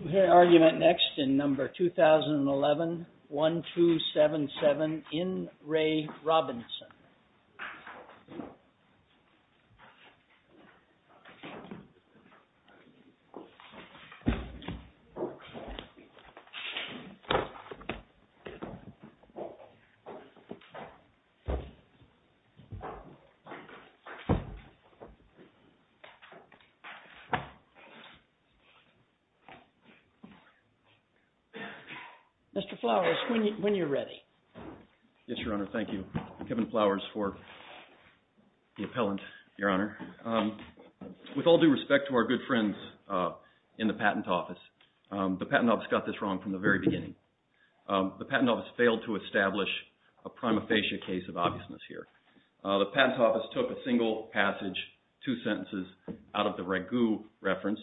We'll hear argument next in number 2011-1277 in Ray Robinson. Mr. Flowers, when you're ready. Yes, Your Honor. Thank you. Kevin Flowers for the appellant, Your Honor. With all due respect to our good friends in the Patent Office, the Patent Office got this wrong from the very beginning. The Patent Office failed to establish a prima facie case of obviousness here. The Patent Office took a single passage, two sentences, out of the Ragu reference,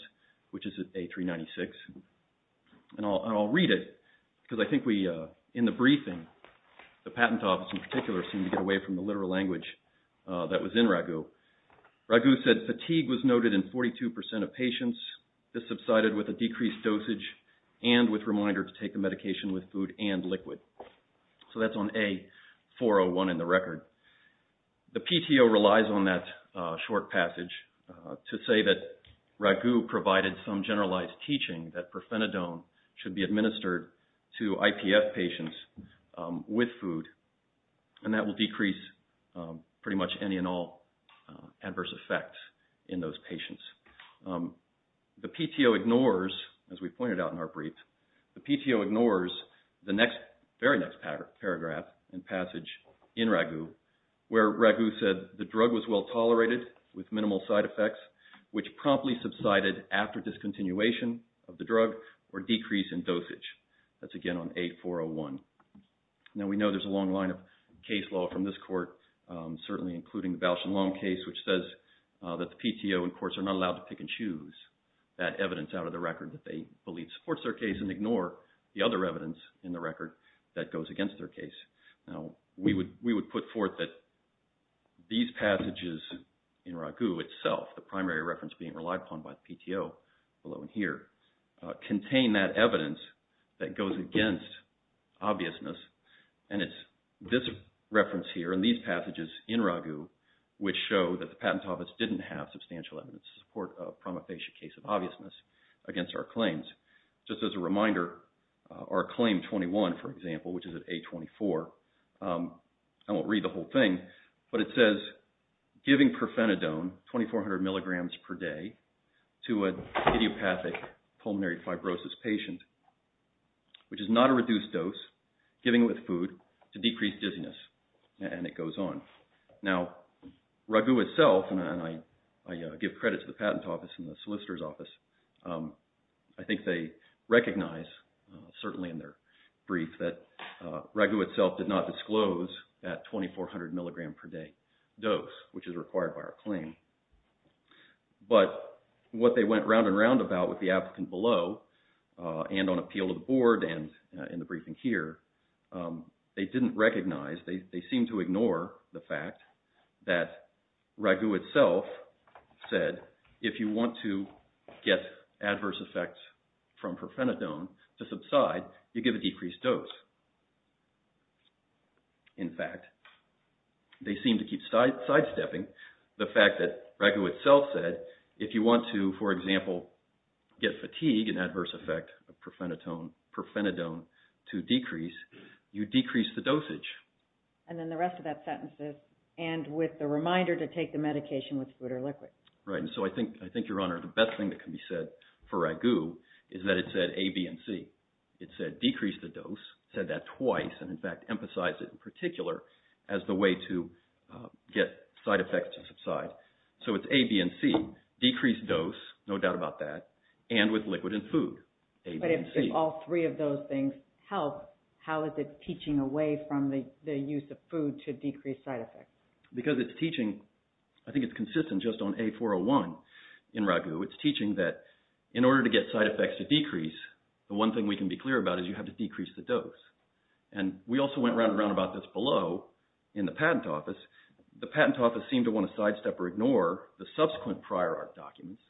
which is at A396. And I'll read it because I think we, in the briefing, the Patent Office in particular seemed to get away from the literal language that was in Ragu. Ragu said fatigue was noted in 42% of patients. This subsided with a decreased dosage and with reminder to take the medication with food and liquid. So that's on A401 in the record. The PTO relies on that short passage to say that Ragu provided some generalized teaching that perfenadone should be administered to IPF patients with food and that will decrease pretty much any and all adverse effects in those patients. The PTO ignores, as we pointed out in our brief, the PTO ignores the very next paragraph and passage in Ragu where Ragu said the drug was well tolerated with minimal side effects, which promptly subsided after discontinuation of the drug or decrease in dosage. That's again on A401. Now we know there's a long line of case law from this court, certainly including the Bausch and Long case, which says that the PTO and courts are not allowed to pick and choose that evidence out of the record that they believe supports their case and ignore the other evidence in the record that goes against their case. Now we would put forth that these passages in Ragu itself, the primary reference being relied upon by the PTO below in here, contain that evidence that goes against obviousness and it's this reference here and these passages in Ragu which show that the Patent Office didn't have substantial evidence to support a promofacea case of obviousness against our claims. Just as a reminder, our claim 21, for example, which is at A24, I won't read the whole thing, but it says giving perfenadone, 2400 mg per day, to a idiopathic pulmonary fibrosis patient, which is not a reduced dose, giving it with food to decrease dizziness and it goes on. Now Ragu itself, and I give credit to the Patent Office and the Solicitor's Office, I think they recognize, certainly in their brief, that Ragu itself did not disclose that 2400 mg per day dose, which is required by our claim. But what they went round and round about with the applicant below and on appeal to the board and in the briefing here, they didn't recognize, they seemed to ignore the fact that Ragu itself said if you want to get adverse effects from perfenadone to subside, you give a decreased dose. In fact, they seem to keep sidestepping the fact that Ragu itself said if you want to, for example, get fatigue, an adverse effect of perfenadone to decrease, you decrease the dosage. And then the rest of that sentence is, and with the reminder to take the medication with food or liquid. So I think, Your Honor, the best thing that can be said for Ragu is that it said A, B, and C. It said decrease the dose, said that twice, and in fact emphasized it in particular as the way to get side effects to subside. So it's A, B, and C, decreased dose, no doubt about that, and with liquid and food, A, B, and C. But if all three of those things help, how is it teaching away from the use of food to decrease side effects? Because it's teaching, I think it's consistent just on A401 in Ragu. It's teaching that in order to get side effects to decrease, the one thing we can be clear about is you have to decrease the dose. And we also went round and round about this below in the patent office. The patent office seemed to want to sidestep or ignore the subsequent prior art documents,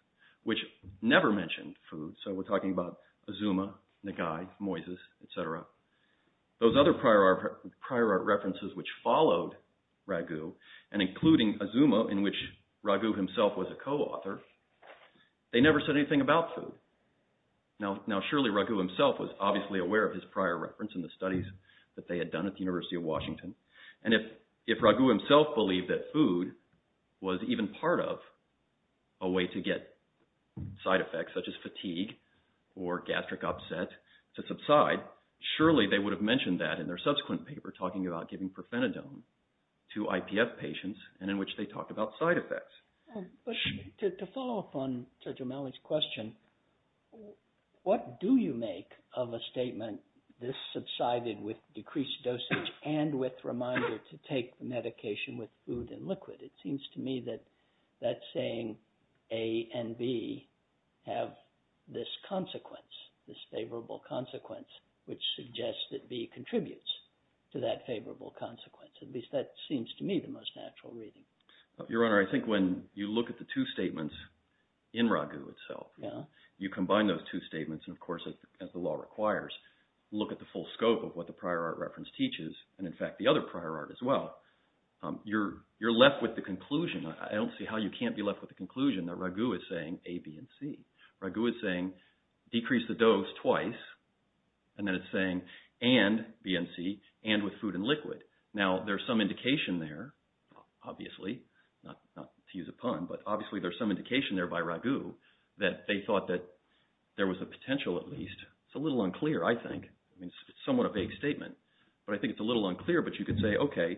which never mentioned food. So we're talking about Azuma, Nagai, Moises, etc. Those other prior art references which followed Ragu, and including Azuma, in which Ragu himself was a co-author, they never said anything about food. Now surely Ragu himself was obviously aware of his prior reference and the studies that they had done at the University of Washington. And if Ragu himself believed that food was even part of a way to get side effects such as fatigue or gastric upset to subside, surely they would have mentioned that in their subsequent paper talking about giving profenadone to IPF patients and in which they talked about side effects. To follow up on Dr. Malloy's question, what do you make of a statement, this subsided with decreased dosage and with reminder to take medication with food and liquid? It seems to me that that's saying A and B have this consequence, this favorable consequence, which suggests that B contributes to that favorable consequence. At least that seems to me the most natural reading. Your Honor, I think when you look at the two statements in Ragu itself, you combine those two statements, and of course as the law requires, look at the full scope of what the prior art reference teaches, and in fact the other prior art as well, you're left with the conclusion. I don't see how you can't be left with the conclusion that Ragu is saying A, B, and C. Ragu is saying decrease the dose twice, and then it's saying and B and C, and with food and liquid. Now there's some indication there, obviously, not to use a pun, but obviously there's some indication there by Ragu that they thought that there was a potential at least. It's a little unclear, I think. It's somewhat a vague statement, but I think it's a little unclear. But you could say, okay,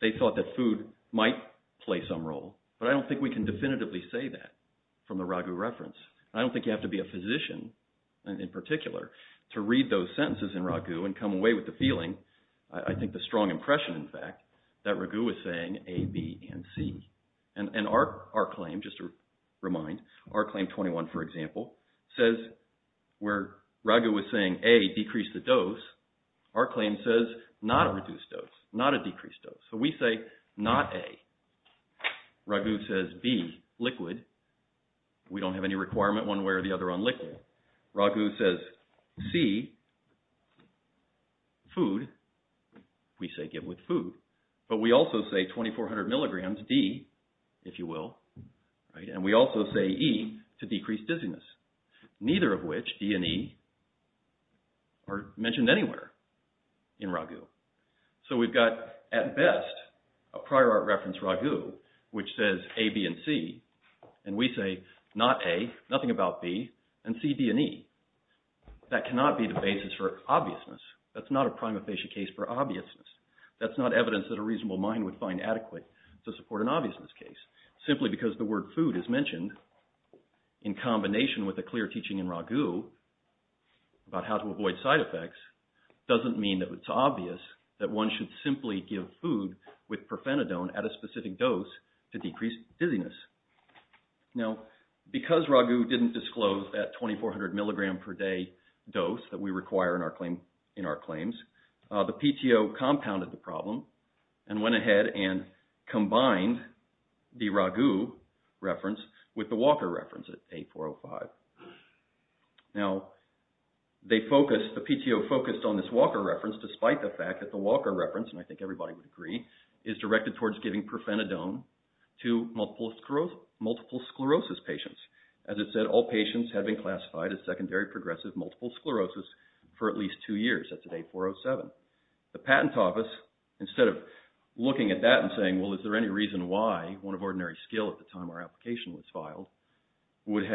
they thought that food might play some role, but I don't think we can definitively say that from the Ragu reference. I don't think you have to be a physician in particular to read those sentences in Ragu and come away with the feeling. I think the strong impression, in fact, that Ragu was saying A, B, and C. And our claim, just to remind, our claim 21, for example, says where Ragu was saying A, decrease the dose, our claim says not a reduced dose, not a decreased dose. So we say not A. Ragu says B, liquid. We don't have any requirement one way or the other on liquid. Ragu says C, food. We say give with food. But we also say 2,400 milligrams, D, if you will. And we also say E, to decrease dizziness. Neither of which, D and E, are mentioned anywhere in Ragu. So we've got, at best, a prior art reference Ragu, which says A, B, and C. And we say not A, nothing about B, and C, D, and E. That cannot be the basis for obviousness. That's not a prima facie case for obviousness. That's not evidence that a reasonable mind would find adequate to support an obviousness case. Simply because the word food is mentioned in combination with a clear teaching in Ragu about how to avoid side effects doesn't mean that it's obvious that one should simply give food with profenadone at a specific dose to decrease dizziness. Now, because Ragu didn't disclose that 2,400 milligram per day dose that we require in our claims, the PTO compounded the problem and went ahead and combined the Ragu reference with the Walker reference at A405. Now, the PTO focused on this Walker reference despite the fact that the Walker reference, and I think everybody would agree, is directed towards giving profenadone to multiple sclerosis patients. As I said, all patients have been classified as secondary progressive multiple sclerosis for at least two years. That's at A407. The Patent Office, instead of looking at that and saying, well, is there any reason why one of ordinary skill at the time our application was filed, would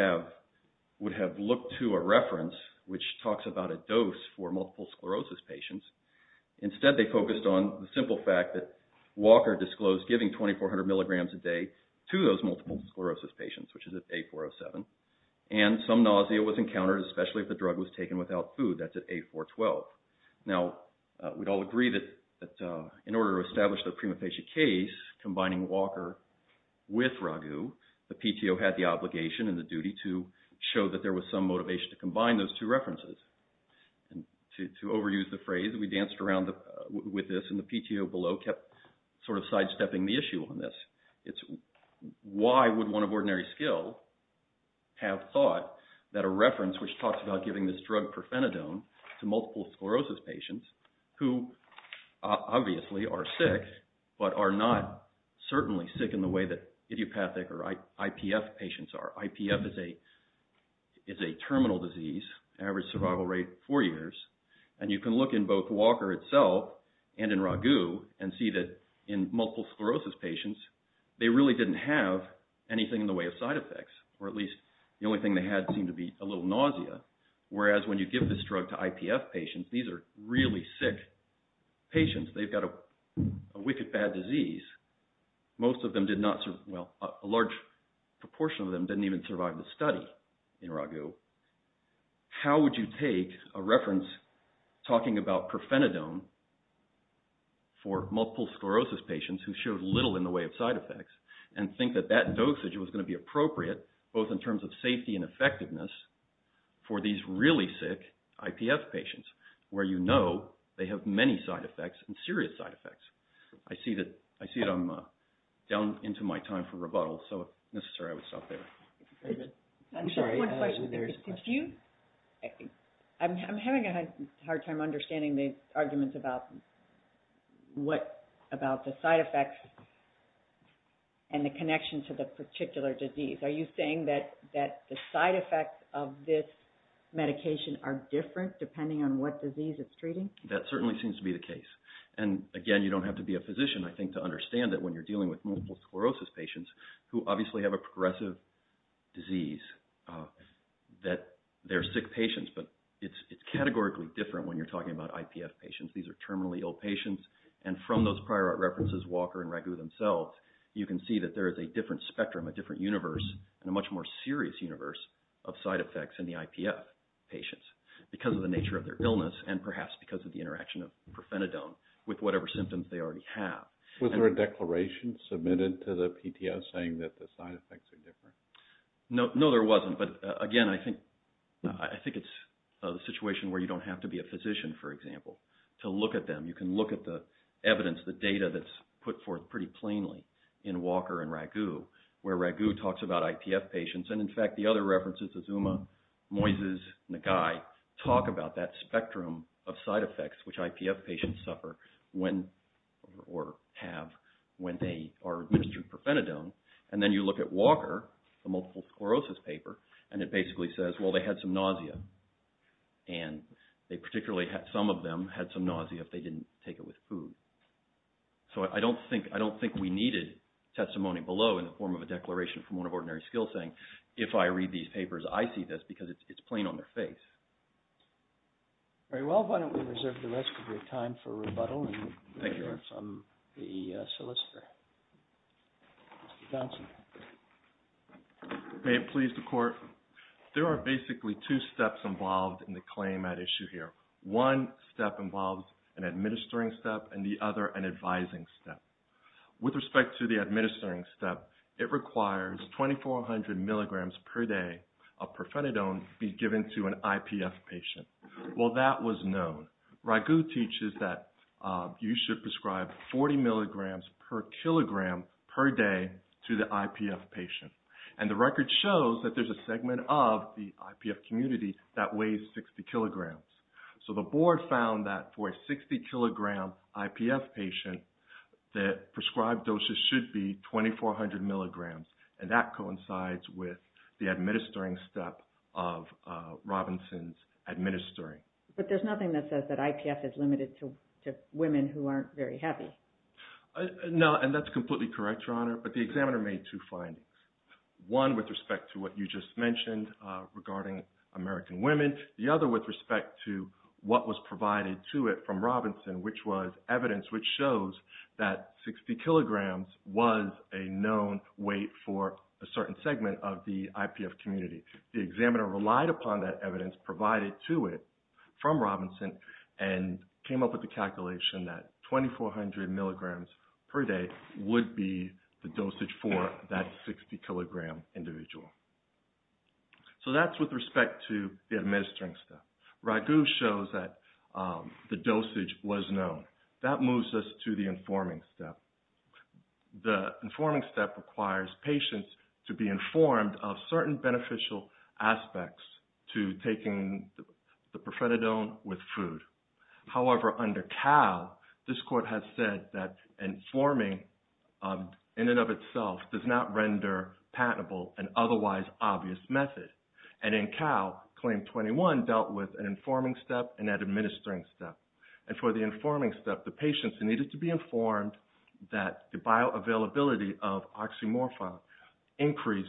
have looked to a reference which talks about a dose for multiple sclerosis patients. Instead, they focused on the simple fact that Walker disclosed giving 2,400 milligrams a day to those multiple sclerosis patients, which is at A407, and some nausea was encountered, especially if the drug was taken without food. That's at A412. Now, we'd all agree that in order to establish the prima facie case, combining Walker with Ragu, the PTO had the obligation and the duty to show that there was some motivation to combine those two references. To overuse the phrase, we danced around with this, and the PTO below kept sort of sidestepping the issue on this. It's why would one of ordinary skill have thought that a reference which talks about giving this drug profenadone to multiple sclerosis patients, who obviously are sick, but are not certainly sick in the way that idiopathic or IPF patients are. IPF is a terminal disease, average survival rate four years, and you can look in both Walker itself and in Ragu and see that in multiple sclerosis patients, they really didn't have anything in the way of side effects, or at least the only thing they had seemed to be a little nausea. Whereas, when you give this drug to IPF patients, these are really sick patients. They've got a wicked bad disease. Most of them did not, well, a large proportion of them didn't even survive the study in Ragu. How would you take a reference talking about profenadone for multiple sclerosis patients who showed little in the way of side effects and think that that dosage was going to be appropriate, both in terms of safety and effectiveness, for these really sick IPF patients, where you know they have many side effects and serious side effects? I see that I'm down into my time for rebuttal, so if necessary, I would stop there. I'm sorry, there's a question. I'm having a hard time understanding the arguments about the side effects and the connection to the particular disease. Are you saying that the side effects of this medication are different depending on what disease it's treating? That certainly seems to be the case. And again, you don't have to be a physician, I think, to understand that when you're dealing with multiple sclerosis patients who obviously have a progressive disease that they're sick patients, but it's categorically different when you're talking about IPF patients. These are terminally ill patients, and from those prior references, Walker and Ragu themselves, you can see that there is a different spectrum, a different universe, and a much more serious universe of side effects in the IPF patients because of the nature of their illness and perhaps because of the interaction of profenadone with whatever symptoms they already have. Was there a declaration submitted to the PTO saying that the side effects are different? No, there wasn't, but again, I think it's a situation where you don't have to be a physician, for example, to look at them. You can look at the evidence, the data that's put forth pretty plainly in Walker and Ragu, where Ragu talks about IPF patients, and in fact, the other references, Azuma, Moises, Nagai, talk about that spectrum of side effects which IPF patients suffer or have when they are administered profenadone, and then you look at Walker, the multiple sclerosis paper, and it basically says, well, they had some nausea, and some of them had some nausea if they didn't take it with food. So I don't think we needed testimony below in the form of a declaration from one of Ordinary Skills saying, if I read these papers, I see this because it's plain on their face. All right, well, why don't we reserve the rest of your time for rebuttal and hear from the solicitor. Mr. Johnson. May it please the Court. There are basically two steps involved in the claim at issue here. One step involves an administering step and the other an advising step. With respect to the administering step, it requires 2,400 milligrams per day of profenadone be given to an IPF patient. Well, that was known. Ragu teaches that you should prescribe 40 milligrams per kilogram per day to the IPF patient, and the record shows that there's a segment of the IPF community that weighs 60 kilograms. So the board found that for a 60-kilogram IPF patient that prescribed doses should be 2,400 milligrams, and that coincides with the administering step of Robinson's administering. But there's nothing that says that IPF is limited to women who aren't very happy. No, and that's completely correct, Your Honor, but the examiner made two findings, one with respect to what you just mentioned regarding American women, and then the other with respect to what was provided to it from Robinson, which was evidence which shows that 60 kilograms was a known weight for a certain segment of the IPF community. The examiner relied upon that evidence provided to it from Robinson and came up with the calculation that 2,400 milligrams per day would be the dosage for that 60-kilogram individual. So that's with respect to the administering step. Ragu shows that the dosage was known. That moves us to the informing step. The informing step requires patients to be informed of certain beneficial aspects to taking the profetadone with food. However, under CAL, this court has said that informing in and of itself does not render patentable an otherwise obvious method. And in CAL, Claim 21 dealt with an informing step and an administering step. And for the informing step, the patients needed to be informed that the bioavailability of oxymorphine increased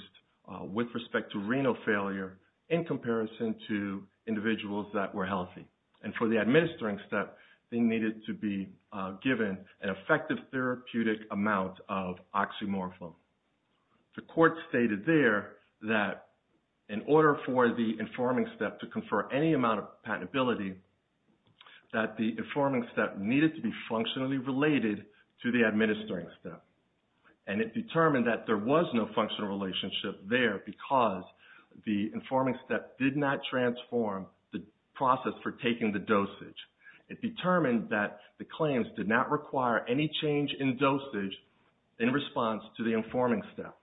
with respect to renal failure in comparison to individuals that were healthy. And for the administering step, they needed to be given an effective therapeutic amount of oxymorphine. The court stated there that in order for the informing step to confer any amount of patentability, that the informing step needed to be functionally related to the administering step. And it determined that there was no functional relationship there because the informing step did not transform the process for taking the dosage. It determined that the claims did not require any change in dosage in response to the informing step.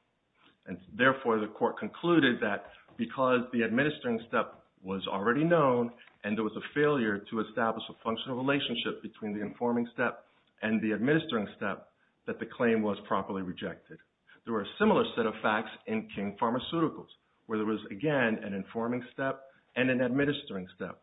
And therefore, the court concluded that because the administering step was already known and there was a failure to establish a functional relationship between the informing step and the administering step, that the claim was properly rejected. There were a similar set of facts in King Pharmaceuticals where there was, again, an informing step and an administering step.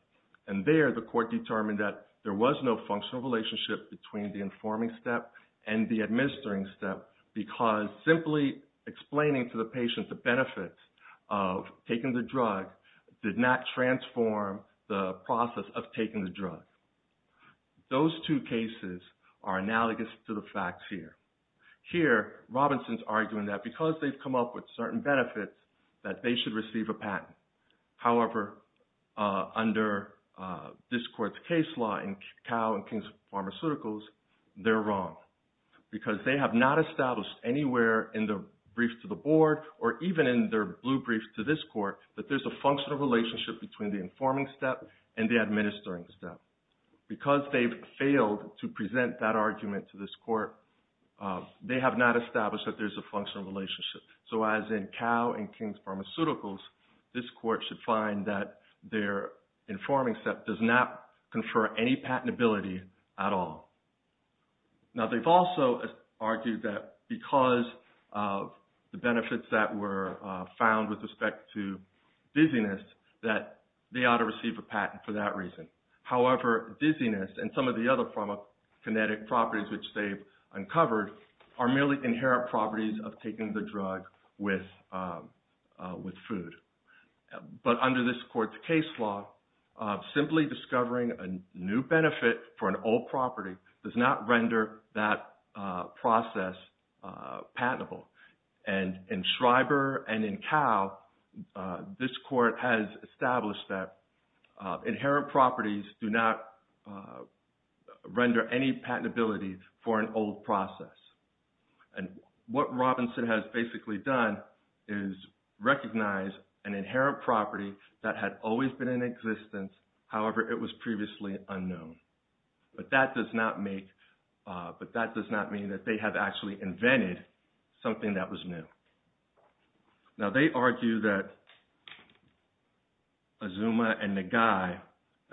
And there, the court determined that there was no functional relationship between the informing step and the administering step because simply explaining to the patient the benefits of taking the drug did not transform the process of taking the drug. Those two cases are analogous to the facts here. Here, Robinson's arguing that because they've come up with certain benefits, that they should receive a patent. However, under this court's case law in Cow and King Pharmaceuticals, they're wrong because they have not established anywhere in the brief to the board or even in their blue brief to this court that there's a functional relationship between the informing step and the administering step. Because they've failed to present that argument to this court, they have not established that there's a functional relationship. So as in Cow and King Pharmaceuticals, this court should find that their informing step does not confer any patentability at all. Now, they've also argued that because of the benefits that were found with respect to dizziness, that they ought to receive a patent for that reason. However, dizziness and some of the other pharmacokinetic properties which they've uncovered are merely inherent properties of taking the drug with food. But under this court's case law, simply discovering a new benefit for an old property does not render that process patentable. And in Schreiber and in Cow, this court has established that inherent properties do not render any patentability for an old process. And what Robinson has basically done is recognize an inherent property that had always been in existence, however, it was previously unknown. But that does not mean that they have actually invented something that was new. Now, they argue that Azuma and Nagai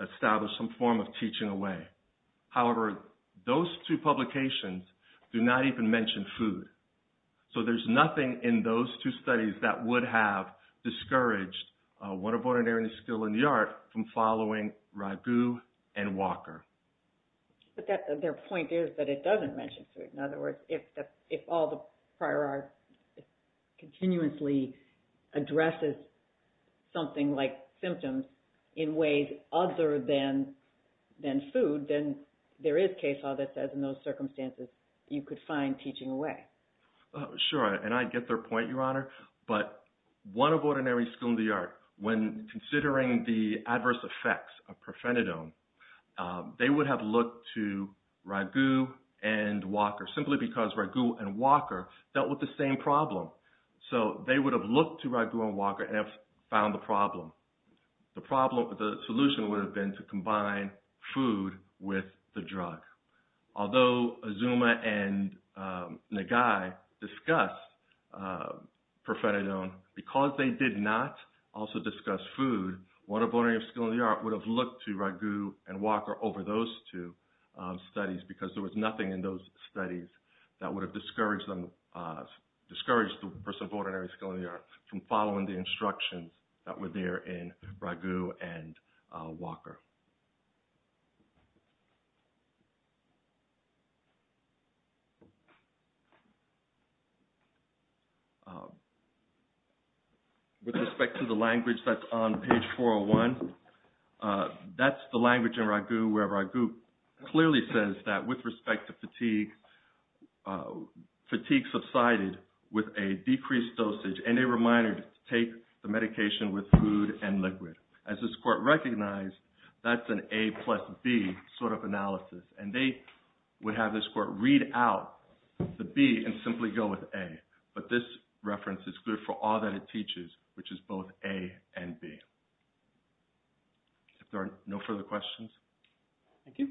established some form of teaching away. However, those two publications do not even mention food. So there's nothing in those two studies that would have discouraged one of ordinary skill in the art from following Ragu and Walker. But their point is that it doesn't mention food. In other words, if all the prior art continuously addresses something like symptoms in ways other than food, then there is case law that says in those circumstances you could find teaching away. Sure, and I get their point, Your Honor. But one of ordinary skill in the art, when considering the adverse effects of profenadone, they would have looked to Ragu and Walker simply because Ragu and Walker dealt with the same problem. So they would have looked to Ragu and Walker and found the problem. The solution would have been to combine food with the drug. Although Azuma and Nagai discussed profenadone, because they did not also discuss food, one of ordinary skill in the art would have looked to Ragu and Walker over those two studies because there was nothing in those studies that would have discouraged the person of ordinary skill in the art from following the instructions that were there in Ragu and Walker. With respect to the language that's on page 401, that's the language in Ragu where Ragu clearly says that with respect to fatigue, fatigue subsided with a decreased dosage and a reminder to take the medication with food and liquid. As this court recognized, that's an A plus B sort of analysis. And they would have this court read out the B and simply go with A. But this reference is good for all that it teaches, which is both A and B. If there are no further questions. Thank you.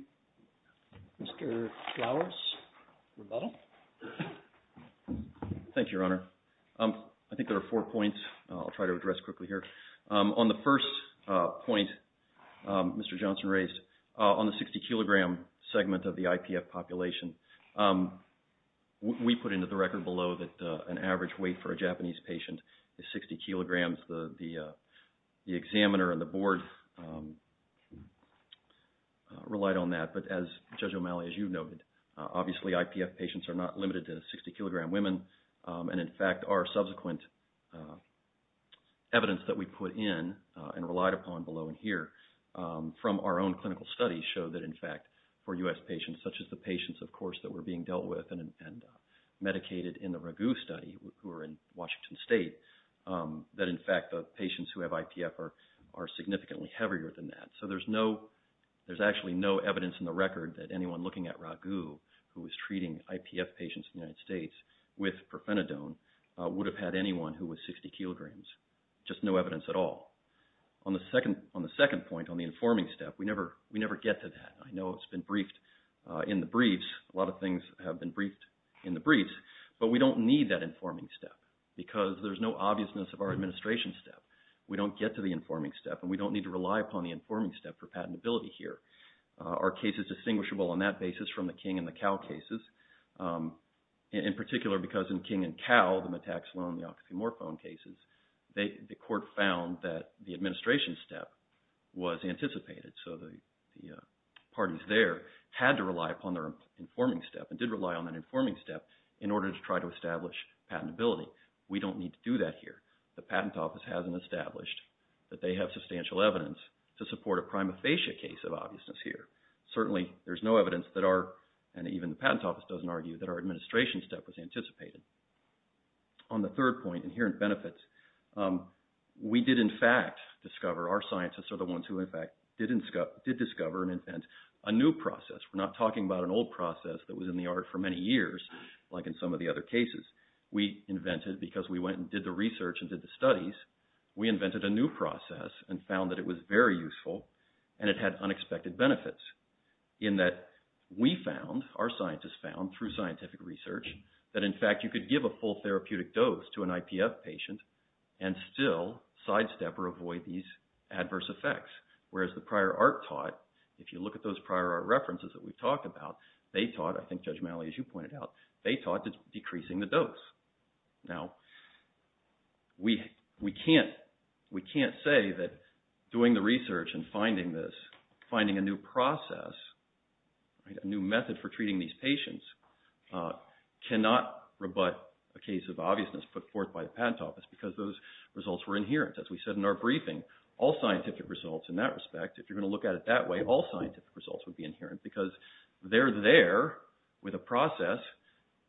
Mr. Flowers, rebuttal. Thank you, Your Honor. I think there are four points I'll try to address quickly here. On the first point Mr. Johnson raised, on the 60-kilogram segment of the IPF population, we put into the record below that an average weight for a Japanese patient is 60 kilograms. The examiner and the board relied on that. But as Judge O'Malley, as you noted, obviously IPF patients are not limited to 60-kilogram women. And, in fact, our subsequent evidence that we put in and relied upon below and here from our own clinical studies show that, in fact, for U.S. patients such as the patients, of course, that were being dealt with and medicated in the Ragu study who are in Washington State, that, in fact, the patients who have IPF are significantly heavier than that. So there's actually no evidence in the record that anyone looking at Ragu, who is treating IPF patients in the United States with profenadone, would have had anyone who was 60 kilograms. Just no evidence at all. On the second point, on the informing step, we never get to that. I know it's been briefed in the briefs, a lot of things have been briefed in the briefs, but we don't need that informing step because there's no obviousness of our administration step. We don't get to the informing step and we don't need to rely upon the informing step for patentability here. Our case is distinguishable on that basis from the King and the Cow cases, in particular because in King and Cow, the Metaxilone and the oxymorphone cases, the court found that the administration step was anticipated. So the parties there had to rely upon their informing step and did rely on that informing step in order to try to establish patentability. We don't need to do that here. The patent office hasn't established that they have substantial evidence to support a prima facie case of obviousness here. Certainly there's no evidence that our, and even the patent office doesn't argue, that our administration step was anticipated. On the third point, inherent benefits, we did in fact discover, our scientists are the ones who in fact did discover and invent a new process. We're not talking about an old process that was in the art for many years, like in some of the other cases. We invented, because we went and did the research and did the studies, we invented a new process and found that it was very useful and it had unexpected benefits. In that we found, our scientists found through scientific research, that in fact you could give a full therapeutic dose to an IPF patient and still sidestep or avoid these adverse effects. Whereas the prior art taught, if you look at those prior art references that we've talked about, they taught, I think Judge Malley, as you pointed out, they taught decreasing the dose. Now, we can't say that doing the research and finding this, finding a new process, a new method for treating these patients, cannot rebut a case of obviousness put forth by the patent office, because those results were inherent. As we said in our briefing, all scientific results in that respect, if you're going to look at it that way, all scientific results would be inherent, because they're there with a process,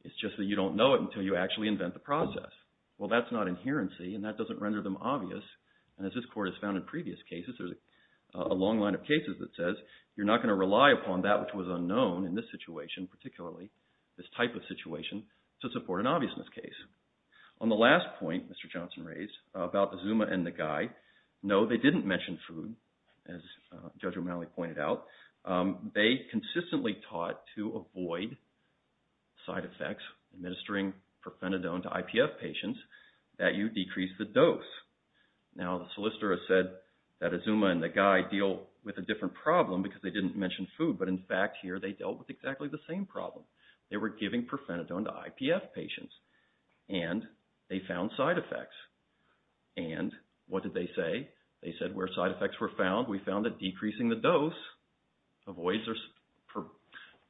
it's just that you don't know it until you actually invent the process. Well, that's not adherency and that doesn't render them obvious. And as this Court has found in previous cases, there's a long line of cases that says, you're not going to rely upon that which was unknown in this situation, particularly this type of situation, to support an obviousness case. On the last point Mr. Johnson raised about the Zuma and the Guy, no, they didn't mention food, as Judge O'Malley pointed out. They consistently taught to avoid side effects, administering profenadone to IPF patients, that you decrease the dose. Now the solicitor has said that a Zuma and a Guy deal with a different problem, because they didn't mention food, but in fact here they dealt with exactly the same problem. They were giving profenadone to IPF patients and they found side effects. And what did they say? They said where side effects were found, we found that decreasing the dose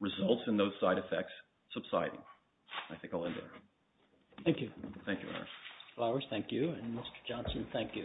results in those side effects subsiding. I think I'll end there. Thank you. Thank you, Eric. Mr. Flowers, thank you. And Mr. Johnson, thank you.